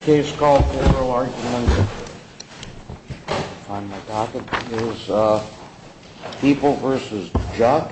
People v. Juk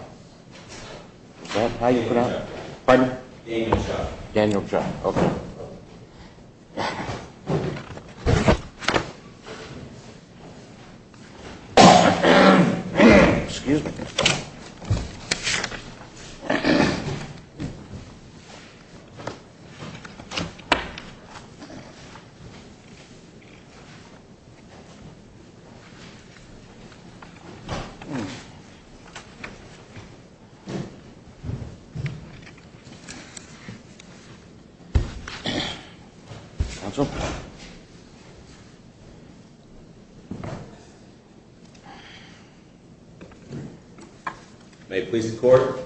May it please the court.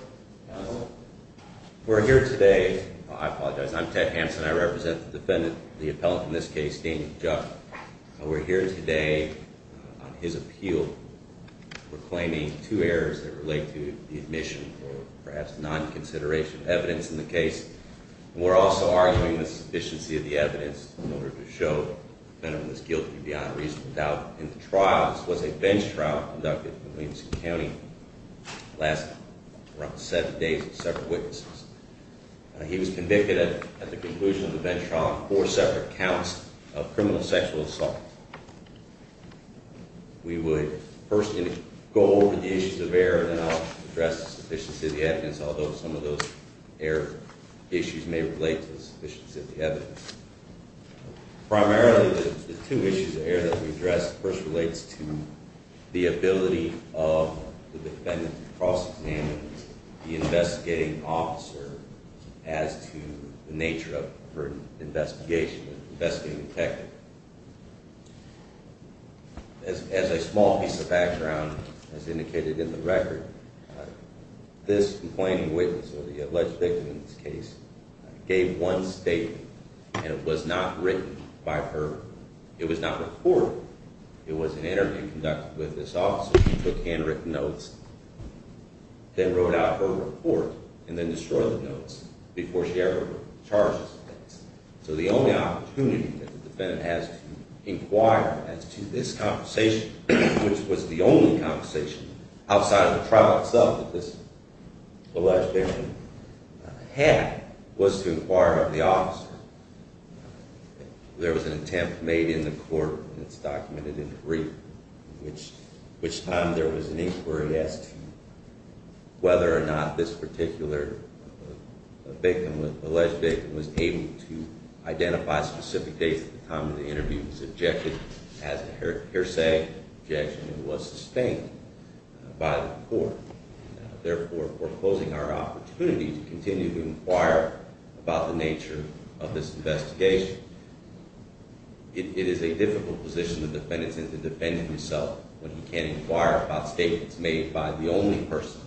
We're here today. I apologize. I'm Ted Hanson. I represent the defendant, the appellant, Ted Hanson. We're here today on his appeal for claiming two errors that relate to the admission or perhaps non-consideration of evidence in the case. And we're also arguing the sufficiency of the evidence in order to show the defendant was guilty beyond reasonable doubt in the trial. This was a bench trial conducted in Williamson County. The last seven days of several witnesses. He was convicted at the conclusion of the bench trial of four separate counts of criminal sexual assault. We would first go over the issues of error, then I'll address the sufficiency of the evidence, although some of those error issues may relate to the sufficiency of the evidence. Primarily the two issues of error that we addressed first relates to the ability of the defendant to cross-examine the investigating officer as to the nature of her investigation. As a small piece of background, as indicated in the record, this complaining witness or the alleged victim in this case gave one statement and it was not written by her. It was not reported. It was an interview conducted with this officer. She took handwritten notes, then wrote out her report, and then destroyed the notes before she ever charged us. So the only opportunity that the defendant has to inquire as to this conversation, which was the only conversation outside of the trial itself that this alleged victim had, was to inquire of the officer. There was an attempt made in the court, and it's documented in brief, in which time there was an inquiry as to whether or not this particular victim, alleged victim, was able to identify specific dates at the time of the interview. This interview was objected as a hearsay objection and was sustained by the court, therefore foreclosing our opportunity to continue to inquire about the nature of this investigation. It is a difficult position for the defendant to defend himself when he can't inquire about statements made by the only person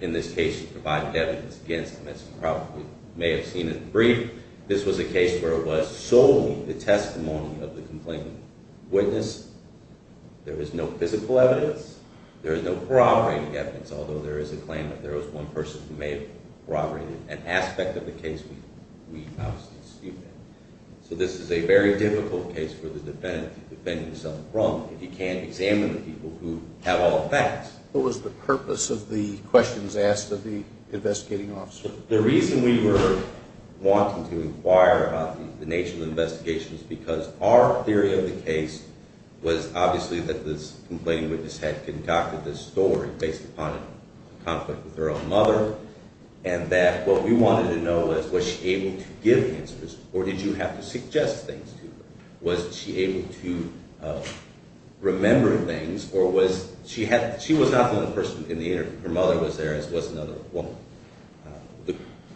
in this case to provide evidence against him, as you probably may have seen in the brief. This was a case where it was solely the testimony of the complainant witness. There is no physical evidence. There is no corroborating evidence, although there is a claim that there was one person who may have corroborated an aspect of the case. So this is a very difficult case for the defendant to defend himself from if he can't examine the people who have all the facts. What was the purpose of the questions asked of the investigating officer? The reason we were wanting to inquire about the nature of the investigation is because our theory of the case was obviously that this complaining witness had conducted this story based upon a conflict with her own mother, and that what we wanted to know was was she able to give answers, or did you have to suggest things to her? Was she able to remember things, or was she – she was not the only person in the interview. Her mother was there as was another woman.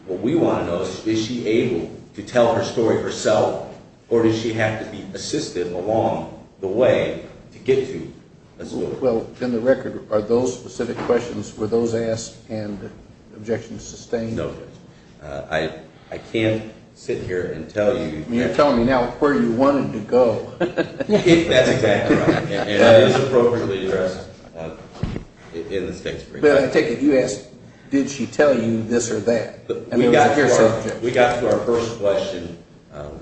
What we want to know is is she able to tell her story herself, or did she have to be assistive along the way to get to a story? Well, in the record, are those specific questions, were those asked and objections sustained? No, Judge. I can't sit here and tell you – You're telling me now where you wanted to go. That's exactly right, and it is appropriately addressed in the state's brief. But I take it you asked, did she tell you this or that? We got to our first question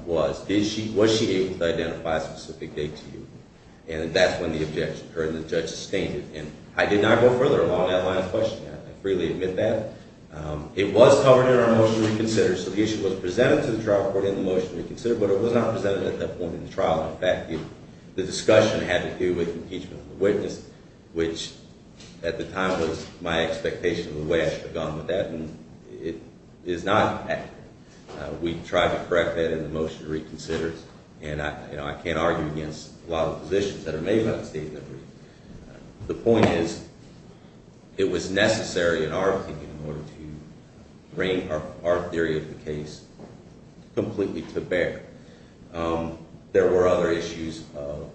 was, was she able to identify a specific date to you? And that's when the objection occurred and the judge sustained it. And I did not go further along that line of questioning. I freely admit that. It was covered in our motion to reconsider, so the issue was presented to the trial court in the motion to reconsider, but it was not presented at that point in the trial. In fact, the discussion had to do with impeachment of the witness, which at the time was my expectation of the way I should have gone with that. And it is not – we tried to correct that in the motion to reconsider, and I can't argue against a lot of positions that are made by the state's brief. The point is it was necessary, in our opinion, in order to bring our theory of the case completely to bear. There were other issues of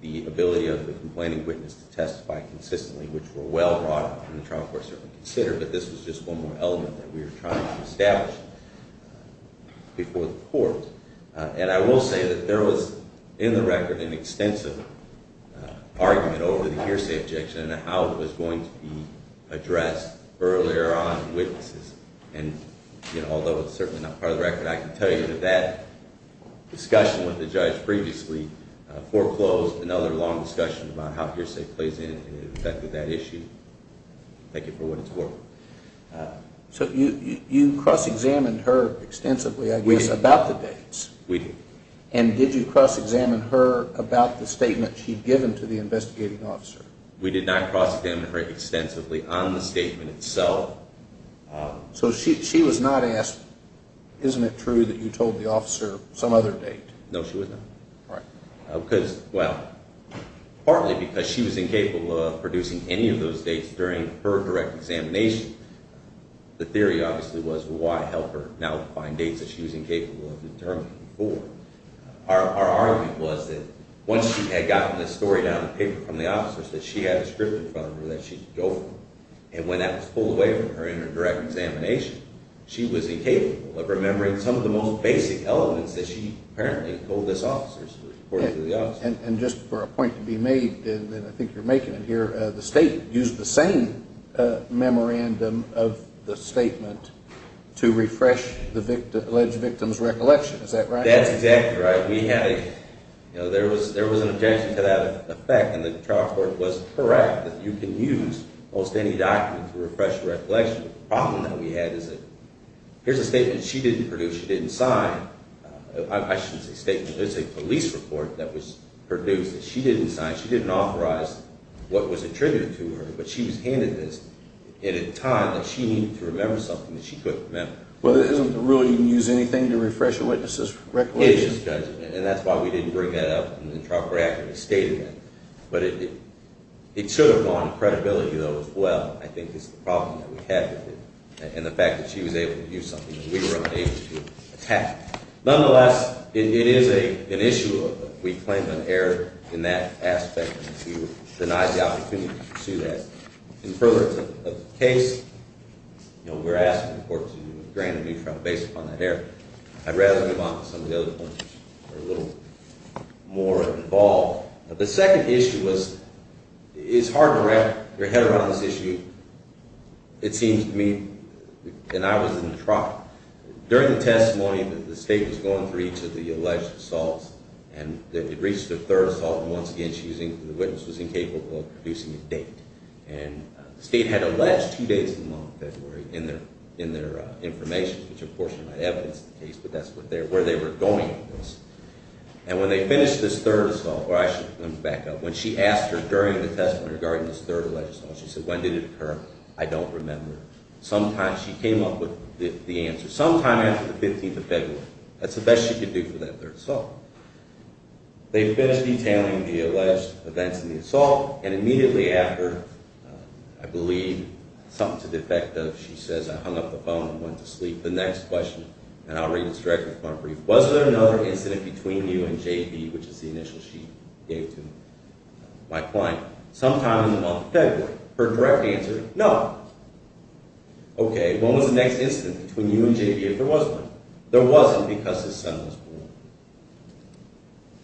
the ability of the complaining witness to testify consistently, which were well brought up and the trial court certainly considered, but this was just one more element that we were trying to establish before the court. And I will say that there was, in the record, an extensive argument over the hearsay objection and how it was going to be addressed earlier on in witnesses. And although it's certainly not part of the record, I can tell you that that discussion with the judge previously foreclosed another long discussion about how hearsay plays in and affected that issue. Thank you for what it's worth. So you cross-examined her extensively, I guess, about the dates. We did. And did you cross-examine her about the statement she'd given to the investigating officer? We did not cross-examine her extensively on the statement itself. So she was not asked, isn't it true that you told the officer some other date? No, she was not. Right. Well, partly because she was incapable of producing any of those dates during her direct examination. The theory obviously was, well, why help her now find dates that she was incapable of determining before? Our argument was that once she had gotten the story down on paper from the officers that she had a script in front of her that she could go from, and when that was pulled away from her in her direct examination, she was incapable of remembering some of the most basic elements that she apparently told those officers, according to the officers. And just for a point to be made, and I think you're making it here, the state used the same memorandum of the statement to refresh the alleged victim's recollection. Is that right? That's exactly right. There was an objection to that effect, and the trial court was correct that you can use almost any document to refresh a recollection. The problem that we had is that here's a statement she didn't produce, she didn't sign. I shouldn't say statement, there's a police report that was produced that she didn't sign. She didn't authorize what was attributed to her, but she was handed this at a time that she needed to remember something that she couldn't remember. Well, it isn't the rule you can use anything to refresh a witness's recollection? Well, it is a judgment, and that's why we didn't bring that up in the trial court after the statement. But it should have gone to credibility, though, as well, I think is the problem that we had with it, and the fact that she was able to do something that we were unable to attack. Nonetheless, it is an issue of we claim an error in that aspect, and she denies the opportunity to pursue that. In furtherance of the case, we're asking the court to grant a new trial based upon that error. I'd rather move on to some of the other points that are a little more involved. The second issue was, it's hard to wrap your head around this issue, it seems to me, and I was in the trial. During the testimony, the state was going through each of the alleged assaults, and it reached the third assault, and once again, the witness was incapable of producing a date. The state had alleged two dates in the month of February in their information, which of course you might evidence the case, but that's where they were going with this. And when they finished this third assault, or I should back up, when she asked her during the testimony regarding this third alleged assault, she said, when did it occur? I don't remember. She came up with the answer, sometime after the 15th of February. That's the best she could do for that third assault. They finished detailing the alleged events in the assault, and immediately after, I believe, something to the effect of, she says, I hung up the phone and went to sleep. The next question, and I'll read this directly from my brief, was there another incident between you and J.B., which is the initial she gave to my client, sometime in the month of February? Her direct answer, no. Okay, when was the next incident between you and J.B. if there was one? There wasn't, because his son was born.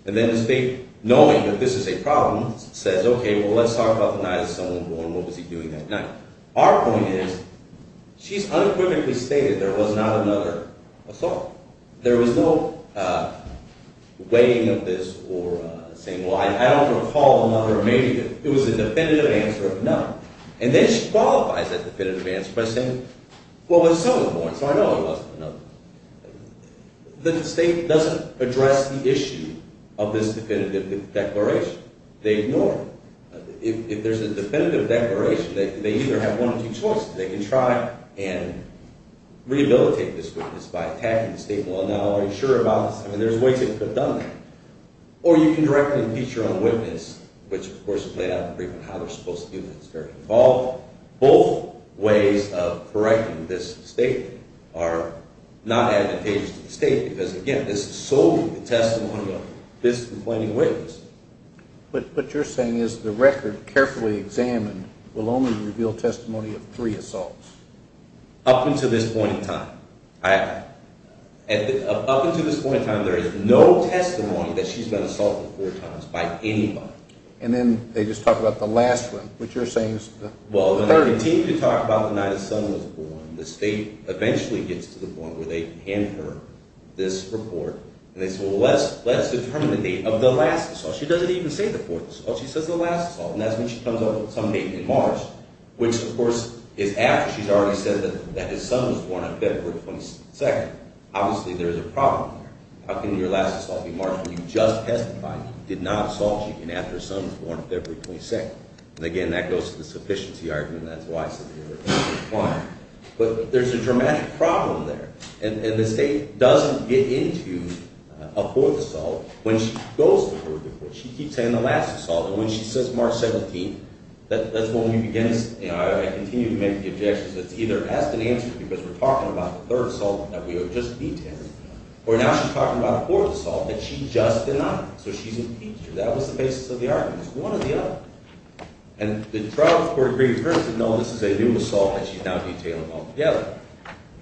And then the state, knowing that this is a problem, says, okay, well, let's talk about the night his son was born. What was he doing that night? Now, our point is, she's unequivocally stated there was not another assault. There was no weighing of this or saying, well, I don't recall another, or maybe it was a definitive answer of no. And then she qualifies that definitive answer by saying, well, his son was born, so I know it wasn't another. The state doesn't address the issue of this definitive declaration. They ignore it. If there's a definitive declaration, they either have one or two choices. They can try and rehabilitate this witness by attacking the state, well, I'm not already sure about this. I mean, there's ways they could have done that. Or you can directly impeach your own witness, which, of course, is laid out in the brief on how they're supposed to do that. It's very involved. Both ways of correcting this statement are not advantageous to the state because, again, this is solely the testimony of this complaining witness. But what you're saying is the record carefully examined will only reveal testimony of three assaults. Up until this point in time. Up until this point in time, there is no testimony that she's been assaulted four times by anybody. And then they just talk about the last one, which you're saying is the third. Well, they continue to talk about the night his son was born. The state eventually gets to the point where they hand her this report, and they say, well, let's determine the date of the last assault. She doesn't even say the fourth assault. She says the last assault. And that's when she comes up with some date in March, which, of course, is after she's already said that his son was born on February 22nd. Obviously, there is a problem there. How can your last assault be March when you just testified that you did not assault him after his son was born on February 22nd? And, again, that goes to the sufficiency argument. That's why I said the date was declined. But there's a dramatic problem there. And the state doesn't get into a fourth assault when she goes to her report. She keeps saying the last assault. And when she says March 17th, that's when we begin to continue to make the objections. It's either ask and answer, because we're talking about the third assault that we have just detailed, or now she's talking about a fourth assault that she just denied. So she's impeached. That was the basis of the argument. It's one or the other. And the trial court agreed with her and said, no, this is a new assault that she's now detailing altogether.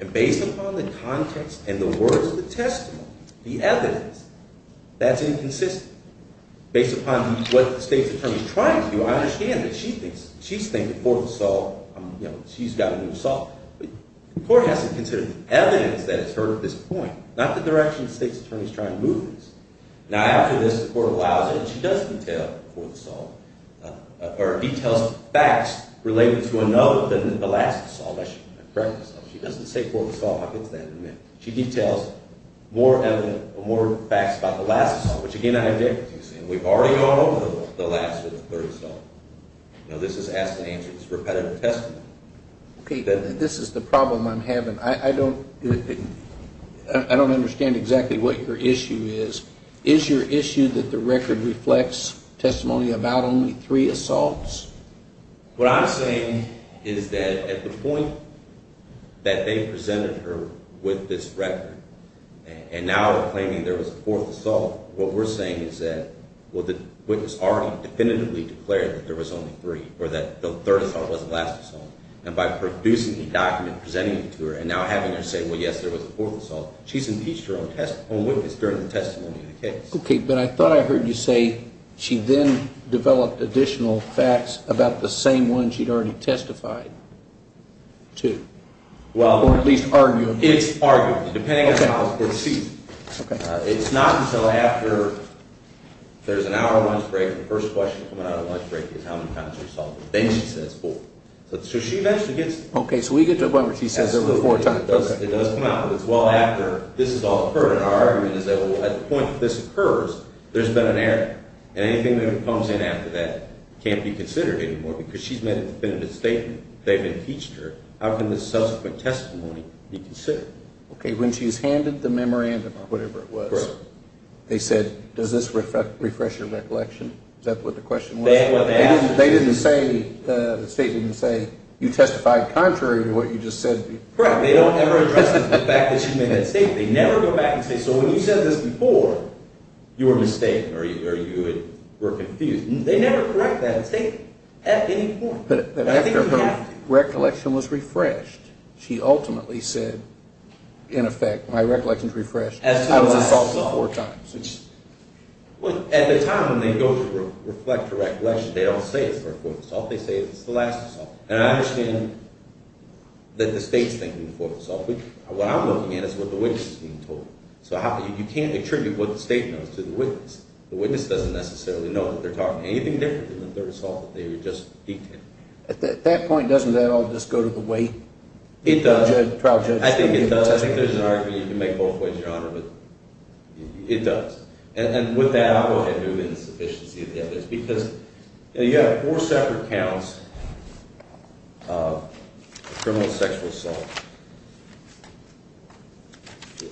And based upon the context and the words of the testimony, the evidence, that's inconsistent. Based upon what the state's attorney is trying to do, I understand that she thinks the fourth assault, you know, she's got a new assault. But the court has to consider the evidence that is heard at this point, not the direction the state's attorney is trying to move this. Now, after this, the court allows it, and she doesn't detail a fourth assault, or details facts related to another than the last assault. She doesn't say fourth assault. I'll get to that in a minute. She details more facts about the last assault, which, again, I object to. We've already gone over the last or the third assault. You know, this is ask and answer. This is repetitive testimony. Okay. This is the problem I'm having. I don't understand exactly what your issue is. Is your issue that the record reflects testimony about only three assaults? What I'm saying is that at the point that they presented her with this record, and now they're claiming there was a fourth assault, what we're saying is that, well, the witness already definitively declared that there was only three, or that the third assault was the last assault. And by producing the document, presenting it to her, and now having her say, well, yes, there was a fourth assault, she's impeached her own witness during the testimony of the case. Okay. But I thought I heard you say she then developed additional facts about the same one she'd already testified to, or at least argued. It's argued, depending on how it's perceived. Okay. It's not until after there's an hour lunch break, and the first question coming out of lunch break is, how many times were you assaulted? Then she says four. So she eventually gets to the point where she says there were four times. It does come out. But it's well after this has all occurred. And our argument is that at the point that this occurs, there's been an error. And anything that comes in after that can't be considered anymore because she's made a definitive statement. They've impeached her. How can this subsequent testimony be considered? Okay. When she was handed the memorandum, or whatever it was, they said, does this refresh your recollection? Is that what the question was? They didn't say, the statement didn't say, you testified contrary to what you just said. Correct. They don't ever address the fact that she made that statement. They never go back and say, so when you said this before, you were mistaken or you were confused. They never correct that statement at any point. But after her recollection was refreshed, she ultimately said, in effect, my recollection's refreshed. I was assaulted four times. Well, at the time when they go to reflect her recollection, they don't say it's her fourth assault. They say it's the last assault. And I understand that the state's thinking the fourth assault. What I'm looking at is what the witness is being told. So you can't attribute what the state knows to the witness. The witness doesn't necessarily know that they're talking anything different than the third assault that they were just detailing. At that point, doesn't that all just go to the way the trial judge is going to give the testimony? I think it does. I think there's an argument you can make both ways, Your Honor. It does. And with that, I'll go ahead and move into the sufficiency of the evidence. Because you have four separate counts of criminal sexual assault.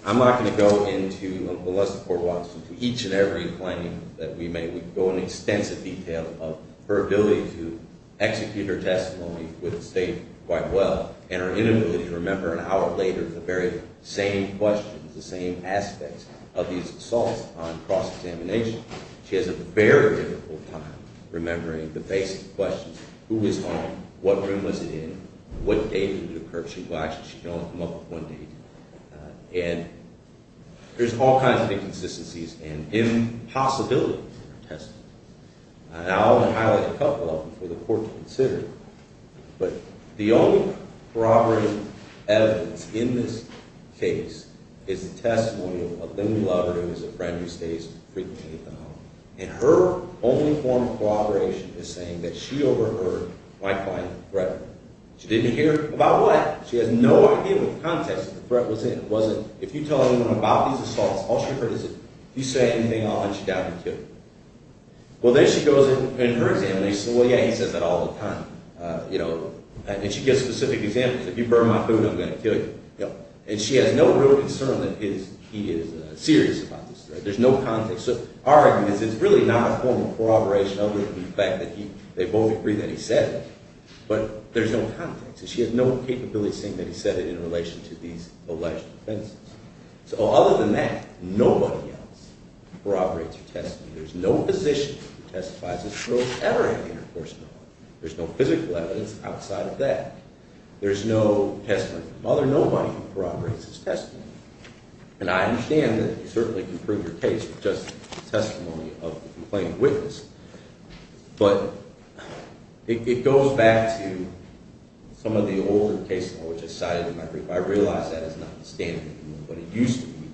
I'm not going to go into the less important ones. Each and every claim that we make, we go into extensive detail of her ability to execute her testimony with the state quite well and her inability to remember an hour later the very same questions, the same aspects of these assaults on cross-examination. She has a very difficult time remembering the basic questions. Who was home? What room was it in? What date did it occur? She can only come up with one date. And there's all kinds of inconsistencies and impossibilities in her testimony. And I want to highlight a couple of them for the Court to consider. But the only corroborative evidence in this case is the testimony of a woman we love. Her name is a friend who stays with me. And her only form of corroboration is saying that she overheard my client threatening her. She didn't hear about what? She has no idea what context the threat was in. It wasn't, if you tell anyone about these assaults, all she heard is, if you say anything, I'll hunt you down and kill you. Well, there she goes in her examination. Well, yeah, he says that all the time. And she gives specific examples. If you burn my food, I'm going to kill you. And she has no real concern that he is serious about this threat. There's no context. So our argument is it's really not a form of corroboration other than the fact that they both agree that he said it. But there's no context. And she has no capability of saying that he said it in relation to these alleged offenses. So other than that, nobody else corroborates your testimony. There's no physician who testifies as a prosecutor in the intercourse of a woman. There's no physical evidence outside of that. There's no testimony from another nobody who corroborates his testimony. And I understand that you certainly can prove your case with just testimony of the complainant witness. But it goes back to some of the older cases which I cited in my brief. I realize that is not the standard of what it used to be,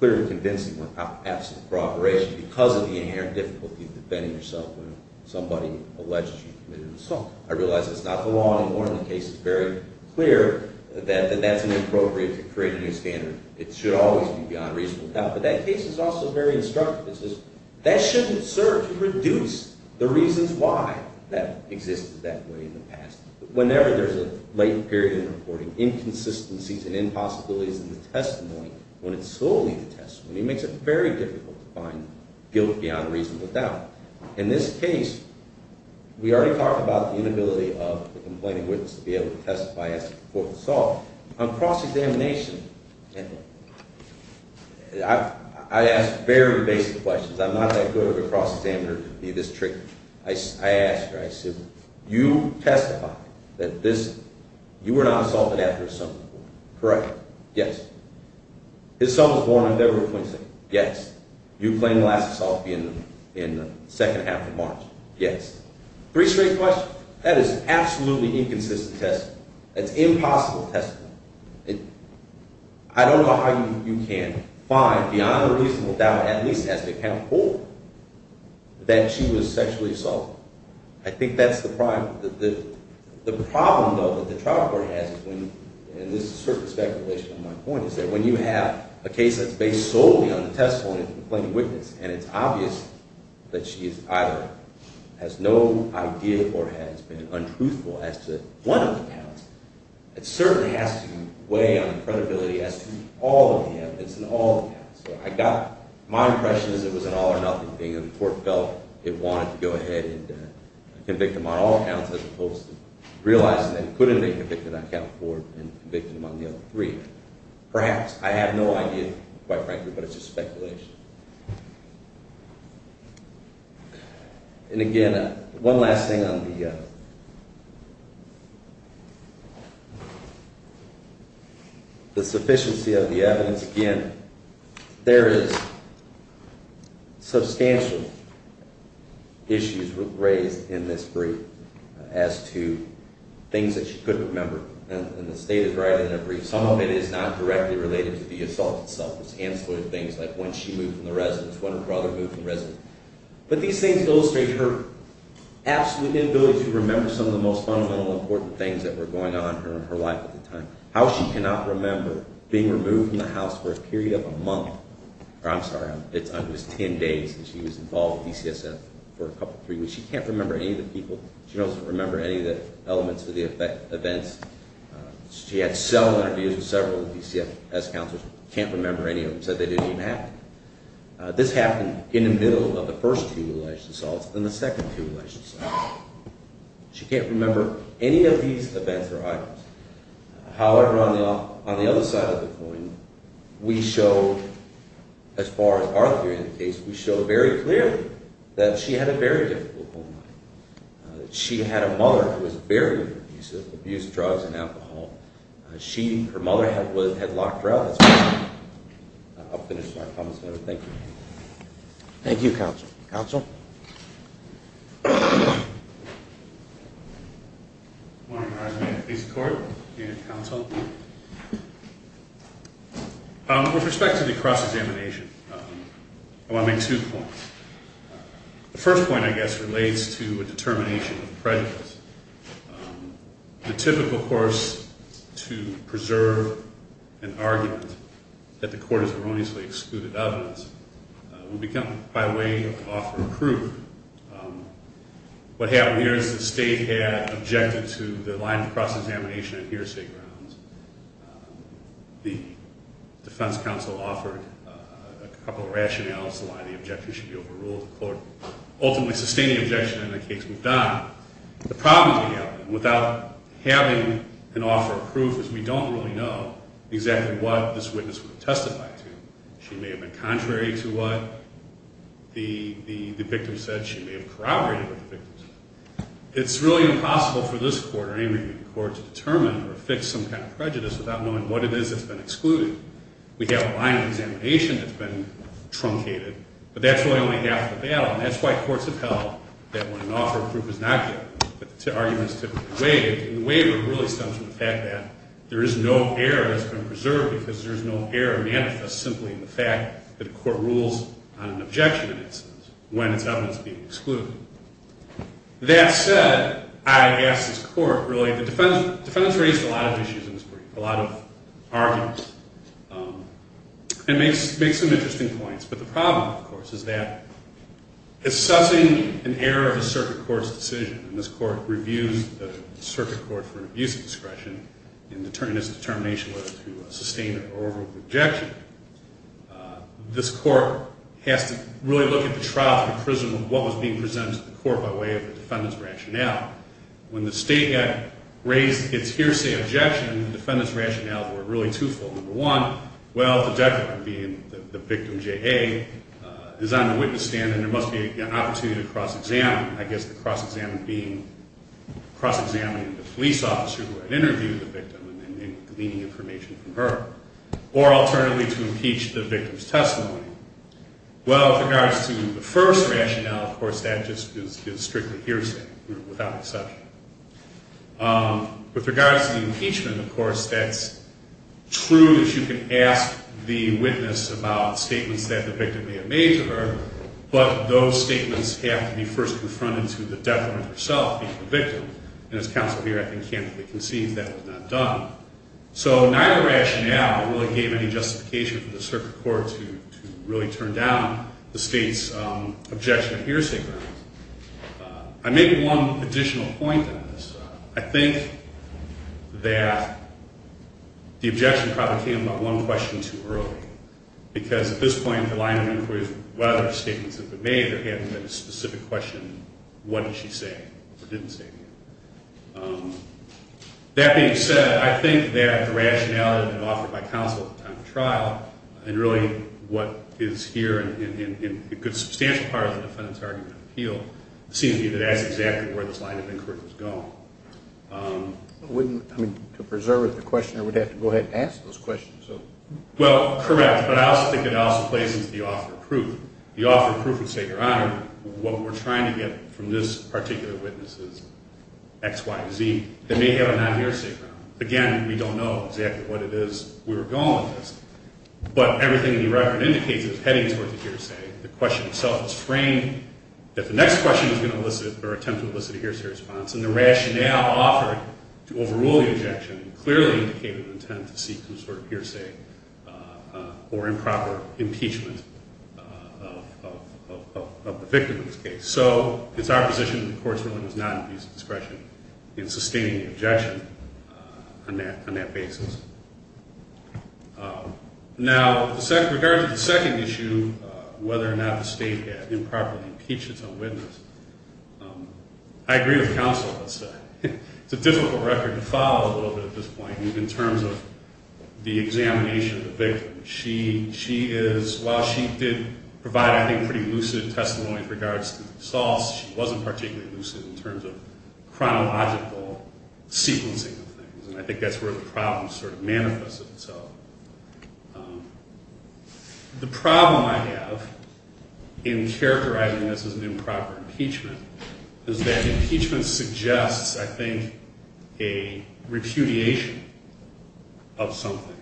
clearly convincing without absolute corroboration, because of the inherent difficulty of defending yourself when somebody alleged you committed an assault. I realize that's not the law anymore in the case. It's very clear that that's inappropriate to create a new standard. It should always be beyond reasonable doubt. But that case is also very instructive. It says that shouldn't serve to reduce the reasons why that existed that way in the past. Whenever there's a latent period in reporting, inconsistencies and impossibilities in the testimony, when it's solely the testimony, it makes it very difficult to find guilt beyond reasonable doubt. In this case, we already talked about the inability of the complaining witness to be able to testify as to the report of the assault. On cross-examination, I ask very basic questions. I'm not that good of a cross-examiner to give me this trick. I asked her, I said, you testified that you were not assaulted after his son was born, correct? Yes. His son was born on February 22nd? Yes. You claimed the last assault to be in the second half of March? Yes. Three straight questions? That is absolutely inconsistent testimony. That's impossible testimony. I don't know how you can find beyond a reasonable doubt, at least as they count forward, that she was sexually assaulted. I think that's the problem. The problem, though, that the trial court has, and this is a circumstance in relation to my point, is that when you have a case that's based solely on the testimony of the complaining witness, and it's obvious that she either has no idea or has been untruthful as to one of the counts, it certainly has to weigh on the credibility as to all of the evidence and all of the counts. My impression is it was an all-or-nothing thing, and the court felt it wanted to go ahead and convict them on all counts as opposed to realizing that it couldn't make a victim on count four and convicting them on the other three. Perhaps. I have no idea, quite frankly, but it's just speculation. And, again, one last thing on the sufficiency of the evidence. Again, there is substantial issues raised in this brief as to things that she couldn't remember, and the state is right in a brief. Some of it is not directly related to the assault itself. It's ancillary to things like when she moved from the residence, when her brother moved from the residence. But these things illustrate her absolute inability to remember some of the most fundamental and important things that were going on in her life at the time, how she cannot remember being removed from the house for a period of a month. I'm sorry, it was 10 days, and she was involved with DCSF for a couple, three weeks. She can't remember any of the people. She doesn't remember any of the elements of the events. She had several interviews with several DCSF counselors, can't remember any of them, said they didn't even happen. This happened in the middle of the first two alleged assaults and the second two alleged assaults. She can't remember any of these events or items. However, on the other side of the coin, we show, as far as our theory indicates, we show very clearly that she had a very difficult home life. She had a mother who was very abusive, abused drugs and alcohol. She, her mother, had locked her out as well. I'll finish with my comments there. Thank you. Thank you, Counsel. Counsel? Good morning, Your Honor. I'm here to speak to the court and counsel. With respect to the cross-examination, I want to make two points. The first point, I guess, relates to a determination of prejudice. The typical course to preserve an argument that the court has erroneously excluded evidence will become, by way of offer of proof. What happened here is the state had objected to the line of cross-examination at hearsay grounds. The defense counsel offered a couple of rationales as to why the objection should be overruled. The court ultimately sustained the objection and the case was done. The problem we have, without having an offer of proof, is we don't really know exactly what this witness would have testified to. She may have been contrary to what the victim said. She may have corroborated what the victim said. It's really impossible for this court or any other court to determine or fix some kind of prejudice without knowing what it is that's been excluded. We have a line of examination that's been truncated, but that's really only half the battle, and that's why courts have held that when an offer of proof is not given, the argument is typically waived, and the waiver really stems from the fact that there is no error that's been preserved because there's no error manifest simply in the fact that a court rules on an objection when its evidence is being excluded. That said, I ask this court, really, the defense raised a lot of issues in this brief, a lot of arguments, and makes some interesting points, but the problem, of course, is that assessing an error of a circuit court's decision, and this court reviews the circuit court for an abuse of discretion in determining its determination whether to sustain or overrule the objection, this court has to really look at the trial for the prism of what was being presented to the court by way of a defendant's rationale. When the State Act raised its hearsay objection, the defendant's rationales were really twofold. Number one, well, the declarant being the victim, J.A., is on the witness stand, and there must be an opportunity to cross-examine, I guess the cross-examining being cross-examining the police officer who had interviewed the victim and then gleaning information from her. Or alternatively, to impeach the victim's testimony. Well, with regards to the first rationale, of course, that just is strictly hearsay, without exception. With regards to the impeachment, of course, that's true that you can ask the witness about statements that the victim may have made to her, but those statements have to be first confronted to the defendant herself, being the victim. And as counsel here, I think, can't really concede that was not done. So neither rationale really gave any justification for the circuit court to really turn down the State's objection of hearsay grounds. I make one additional point on this. I think that the objection probably came about one question too early, because at this point, the line of inquiry is whether statements have been made, or if there hasn't been a specific question, what did she say or didn't say. That being said, I think that the rationality offered by counsel at the time of trial, and really what is here in a good substantial part of the defendant's argument of appeal, seems to be that that's exactly where this line of inquiry was going. I mean, to preserve the question, I would have to go ahead and ask those questions. Well, correct, but I also think it also plays into the offer of proof. The offer of proof would say, Your Honor, what we're trying to get from this particular witness is X, Y, or Z. They may have a non-hearsay ground. Again, we don't know exactly what it is we were going with, but everything in the record indicates that it's heading towards a hearsay. The question itself is framed that the next question is going to elicit or attempt to elicit a hearsay response, and the rationale offered to overrule the objection clearly indicated the intent to seek some sort of hearsay or improper impeachment of the victim in this case. So it's our position that the court's role is not in abuse of discretion in sustaining the objection on that basis. Now, with regard to the second issue, whether or not the state can improperly impeach its own witness, I agree with counsel on that side. It's a difficult record to follow a little bit at this point in terms of the examination of the victim. She is, while she did provide, I think, pretty lucid testimony in regards to the assaults, she wasn't particularly lucid in terms of chronological sequencing of things, and I think that's where the problem sort of manifested itself. The problem I have in characterizing this as an improper impeachment is that impeachment suggests, I think, a repudiation of something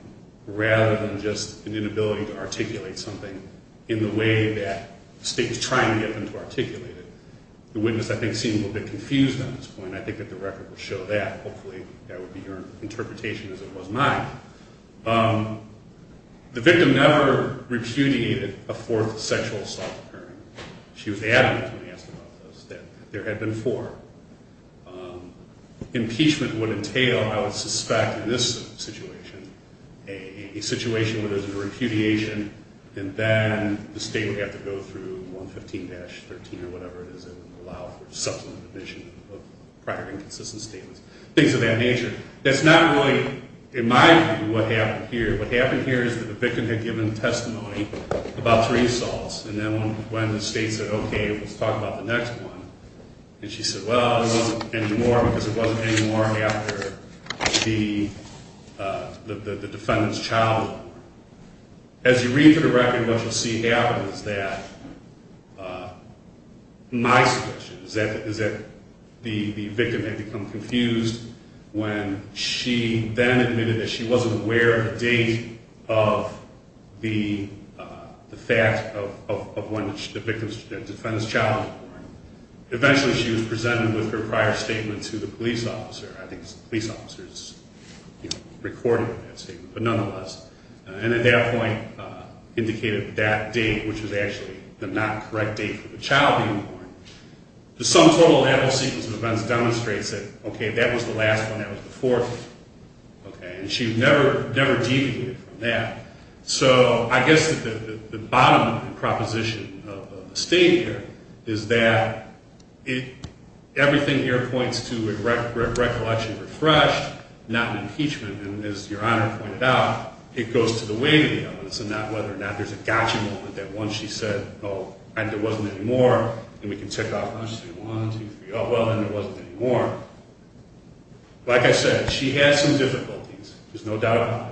rather than just an inability to articulate something in the way that the state is trying to get them to articulate it. The witness, I think, seemed a little bit confused on this point. I think that the record will show that. Hopefully that will be your interpretation as it was mine. The victim never repudiated a fourth sexual assault occurring. She was adamant when asked about this that there had been four. Impeachment would entail, I would suspect in this situation, a situation where there's a repudiation and then the state would have to go through 115-13 or whatever it is that would allow for subsequent admission of prior inconsistent statements, things of that nature. That's not really, in my view, what happened here. What happened here is that the victim had given testimony about three assaults and then when the state said, okay, let's talk about the next one, and she said, well, it wasn't anymore because it wasn't anymore after the defendant's child was born. As you read through the record, what you'll see happen is that my suggestion is that the victim had become confused when she then admitted that she wasn't aware of the date of the fact of when the defendant's child was born. Eventually she was presented with her prior statement to the police officer. I think the police officer recorded that statement, but nonetheless, and at that point indicated that date, which was actually the not correct date for the child being born. The sum total of that whole sequence of events demonstrates that, okay, that was the last one. That was the fourth one, and she never deviated from that. So I guess the bottom proposition of the state here is that everything here points to a recollection refreshed, not an impeachment, and as Your Honor pointed out, it goes to the weight of the evidence and not whether or not there's a gotcha moment that once she said, oh, and it wasn't anymore, and we can tick off one, two, three, oh, well, and it wasn't anymore. Like I said, she had some difficulties, there's no doubt about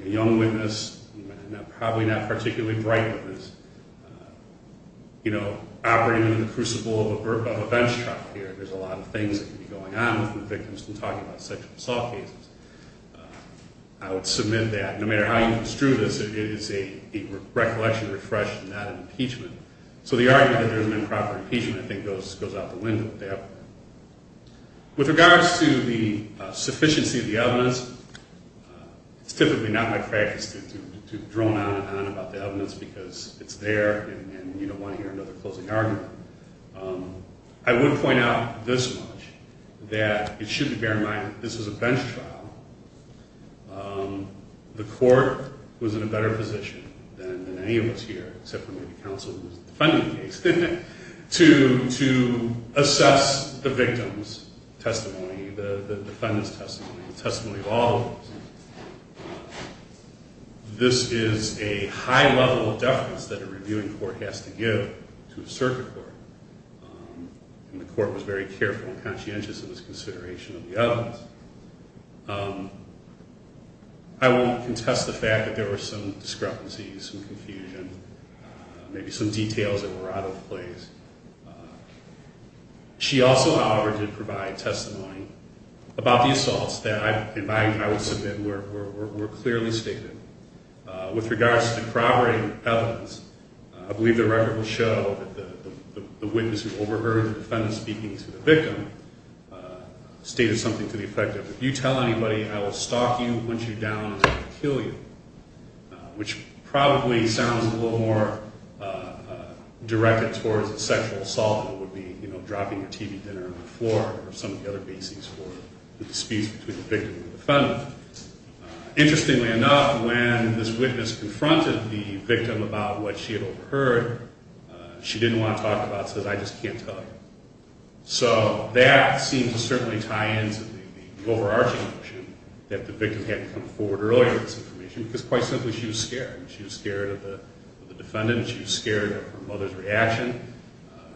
it. A young witness, probably not particularly bright, you know, operating in the crucible of a bench truck here. There's a lot of things that could be going on with the victims when talking about sexual assault cases. I would submit that no matter how you construe this, it is a recollection refreshed, not an impeachment. So the argument that there's an improper impeachment I think goes out the window there. With regards to the sufficiency of the evidence, it's typically not my practice to drone on and on about the evidence because it's there and you don't want to hear another closing argument. I would point out this much, that it should be bear in mind that this is a bench trial. The court was in a better position than any of us here, except for maybe counsel who's defending the case, to assess the victim's testimony, the defendant's testimony, the testimony of all of us. This is a high level of deference that a reviewing court has to give to a circuit court. And the court was very careful and conscientious in its consideration of the evidence. I won't contest the fact that there were some discrepancies and confusion, maybe some details that were out of place. She also, however, did provide testimony about the assaults that I would submit were clearly stated. With regards to the corroborating evidence, I believe the record will show that the witness who overheard the defendant speaking to the victim stated something to the effect of, if you tell anybody I will stalk you once you're down and I will kill you, which probably sounds a little more directed towards a sexual assault than it would be dropping your TV dinner on the floor or some of the other bases for the disputes between the victim and the defendant. Interestingly enough, when this witness confronted the victim about what she had overheard, she didn't want to talk about it, said I just can't tell you. So that seems to certainly tie into the overarching notion that the victim had to come forward earlier with this information because quite simply she was scared. She was scared of the defendant, she was scared of her mother's reaction.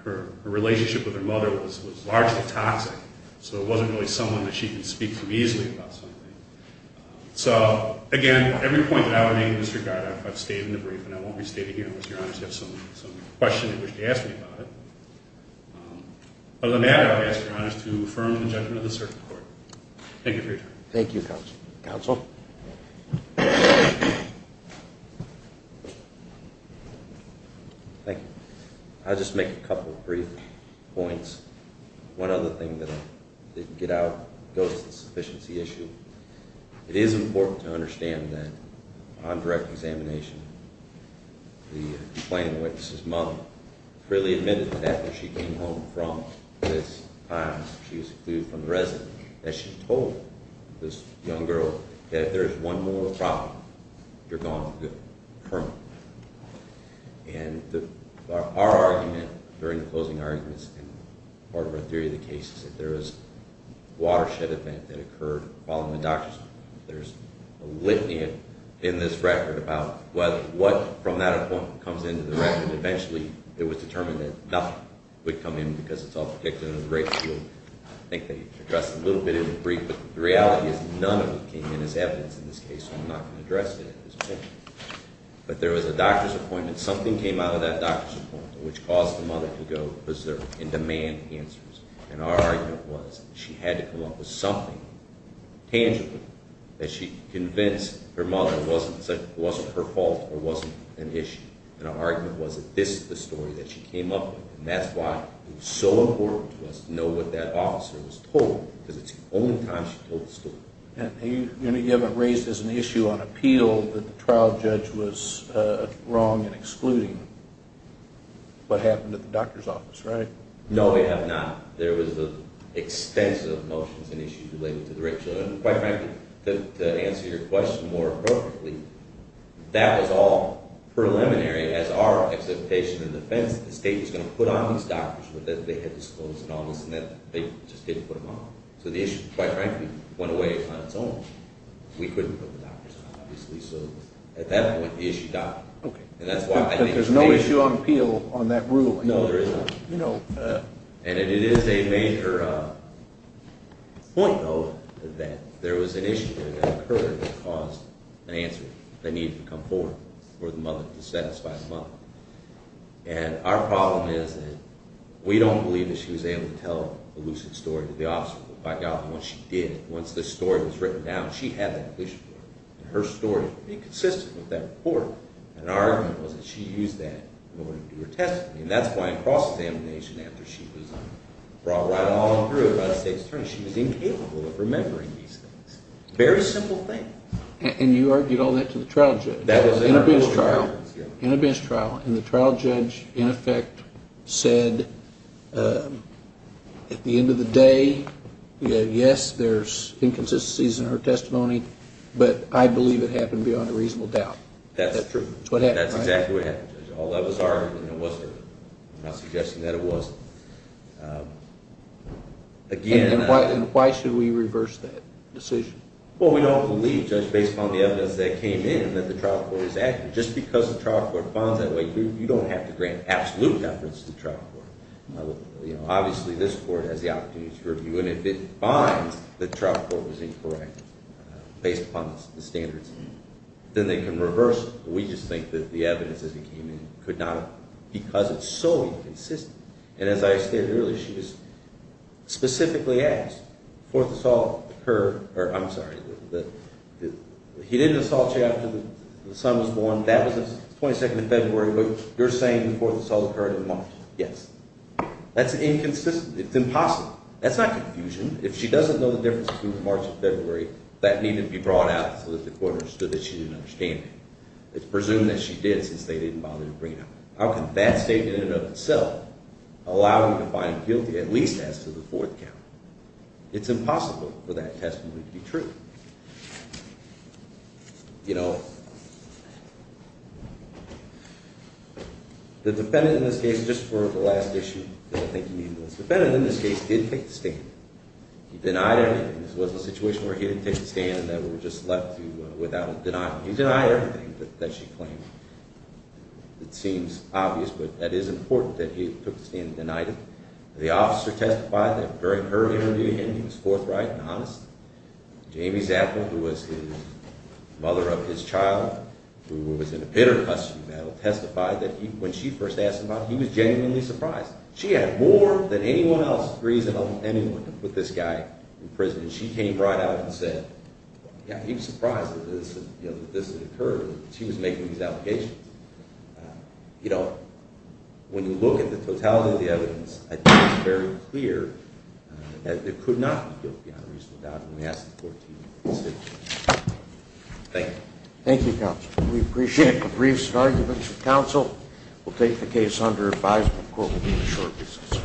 Her relationship with her mother was largely toxic. So it wasn't really someone that she could speak to easily about something. So again, every point that I would make in this regard, I've stated in the brief and I won't restate it here unless Your Honor has some questions you wish to ask me about it. But other than that, I would ask Your Honor to affirm the judgment of the circuit court. Thank you for your time. Thank you, counsel. Counsel? Thank you. I'll just make a couple of brief points. One other thing that I didn't get out goes to the sufficiency issue. It is important to understand that on direct examination, the complaining witness's mother freely admitted that after she came home from this time that she told this young girl that if there is one more problem, you're gone for good permanently. And our argument during the closing arguments and part of our theory of the case is that there is a watershed event that occurred following the doctor's appointment. There's a litany in this record about what from that appointment comes into the record. And eventually it was determined that nothing would come in because it's all predicted in a great deal. I think they addressed it a little bit in the brief. But the reality is none of it came in as evidence in this case, so I'm not going to address it at this point. But there was a doctor's appointment. Something came out of that doctor's appointment which caused the mother to go and demand answers. And our argument was that she had to come up with something tangible that she convinced her mother it wasn't her fault or wasn't an issue. And our argument was that this is the story that she came up with. And that's why it was so important to us to know what that officer was told because it's the only time she told the story. And you haven't raised as an issue on appeal that the trial judge was wrong in excluding what happened at the doctor's office, right? No, we have not. There was extensive motions and issues related to the rape. Quite frankly, to answer your question more appropriately, that was all preliminary. As our expectation of defense, the state was going to put on these doctors that they had disclosed and all this, and they just didn't put them on. So the issue, quite frankly, went away on its own. We couldn't put the doctors on, obviously. So at that point, the issue died. There's no issue on appeal on that ruling. No, there isn't. And it is a major point, though, that there was an issue that occurred that caused an answer that needed to come forward for the mother to satisfy the mother. And our problem is that we don't believe that she was able to tell a lucid story to the officer. Once she did, once the story was written down, she had that lucid story, and her story would be consistent with that report. And our argument was that she used that in order to do her testimony. And that's why in cross-examination, after she was brought right on through by the state's attorney, she was incapable of remembering these things. Very simple thing. And you argued all that to the trial judge. That was in a bench trial. In a bench trial. And the trial judge, in effect, said at the end of the day, yes, there's inconsistencies in her testimony, but I believe it happened beyond a reasonable doubt. That's true. That's what happened, right? I'm not suggesting that it wasn't. And why should we reverse that decision? Well, we don't believe, Judge, based upon the evidence that came in, that the trial court is accurate. Just because the trial court finds that way, you don't have to grant absolute deference to the trial court. Obviously, this court has the opportunity to review, and if it finds that the trial court was incorrect based upon the standards, then they can reverse it. We just think that the evidence as it came in could not have, because it's so inconsistent. And as I stated earlier, she was specifically asked, fourth assault occurred, or I'm sorry, he didn't assault you after the son was born, that was the 22nd of February, but you're saying the fourth assault occurred in March. Yes. That's inconsistent. It's impossible. That's not confusion. If she doesn't know the difference between March and February, that needn't be brought out so that the court understood that she didn't understand it. It's presumed that she did, since they didn't bother to bring it up. How can that statement in and of itself allow him to find guilty, at least as to the fourth count? It's impossible for that testimony to be true. You know, the defendant in this case, just for the last issue, because I think you need to listen, the defendant in this case did take the statement. He denied everything. This wasn't a situation where he didn't take the stand, that we were just left without denying him. He denied everything that she claimed. It seems obvious, but that is important that he took the stand and denied it. The officer testified that during her interview with him, he was forthright and honest. Jamie Zappel, who was the mother of his child, who was in a bitter custody battle, testified that when she first asked him about it, She had more than anyone else reasonable anyone to put this guy in prison, and she came right out and said, yeah, he was surprised that this had occurred, that she was making these allegations. You know, when you look at the totality of the evidence, I think it's very clear that there could not be guilt beyond a reasonable doubt when we ask the court to use that statement. Thank you. Thank you, Counsel. We appreciate the briefs and arguments. Counsel will take the case under advisement. Court will be in a short recess.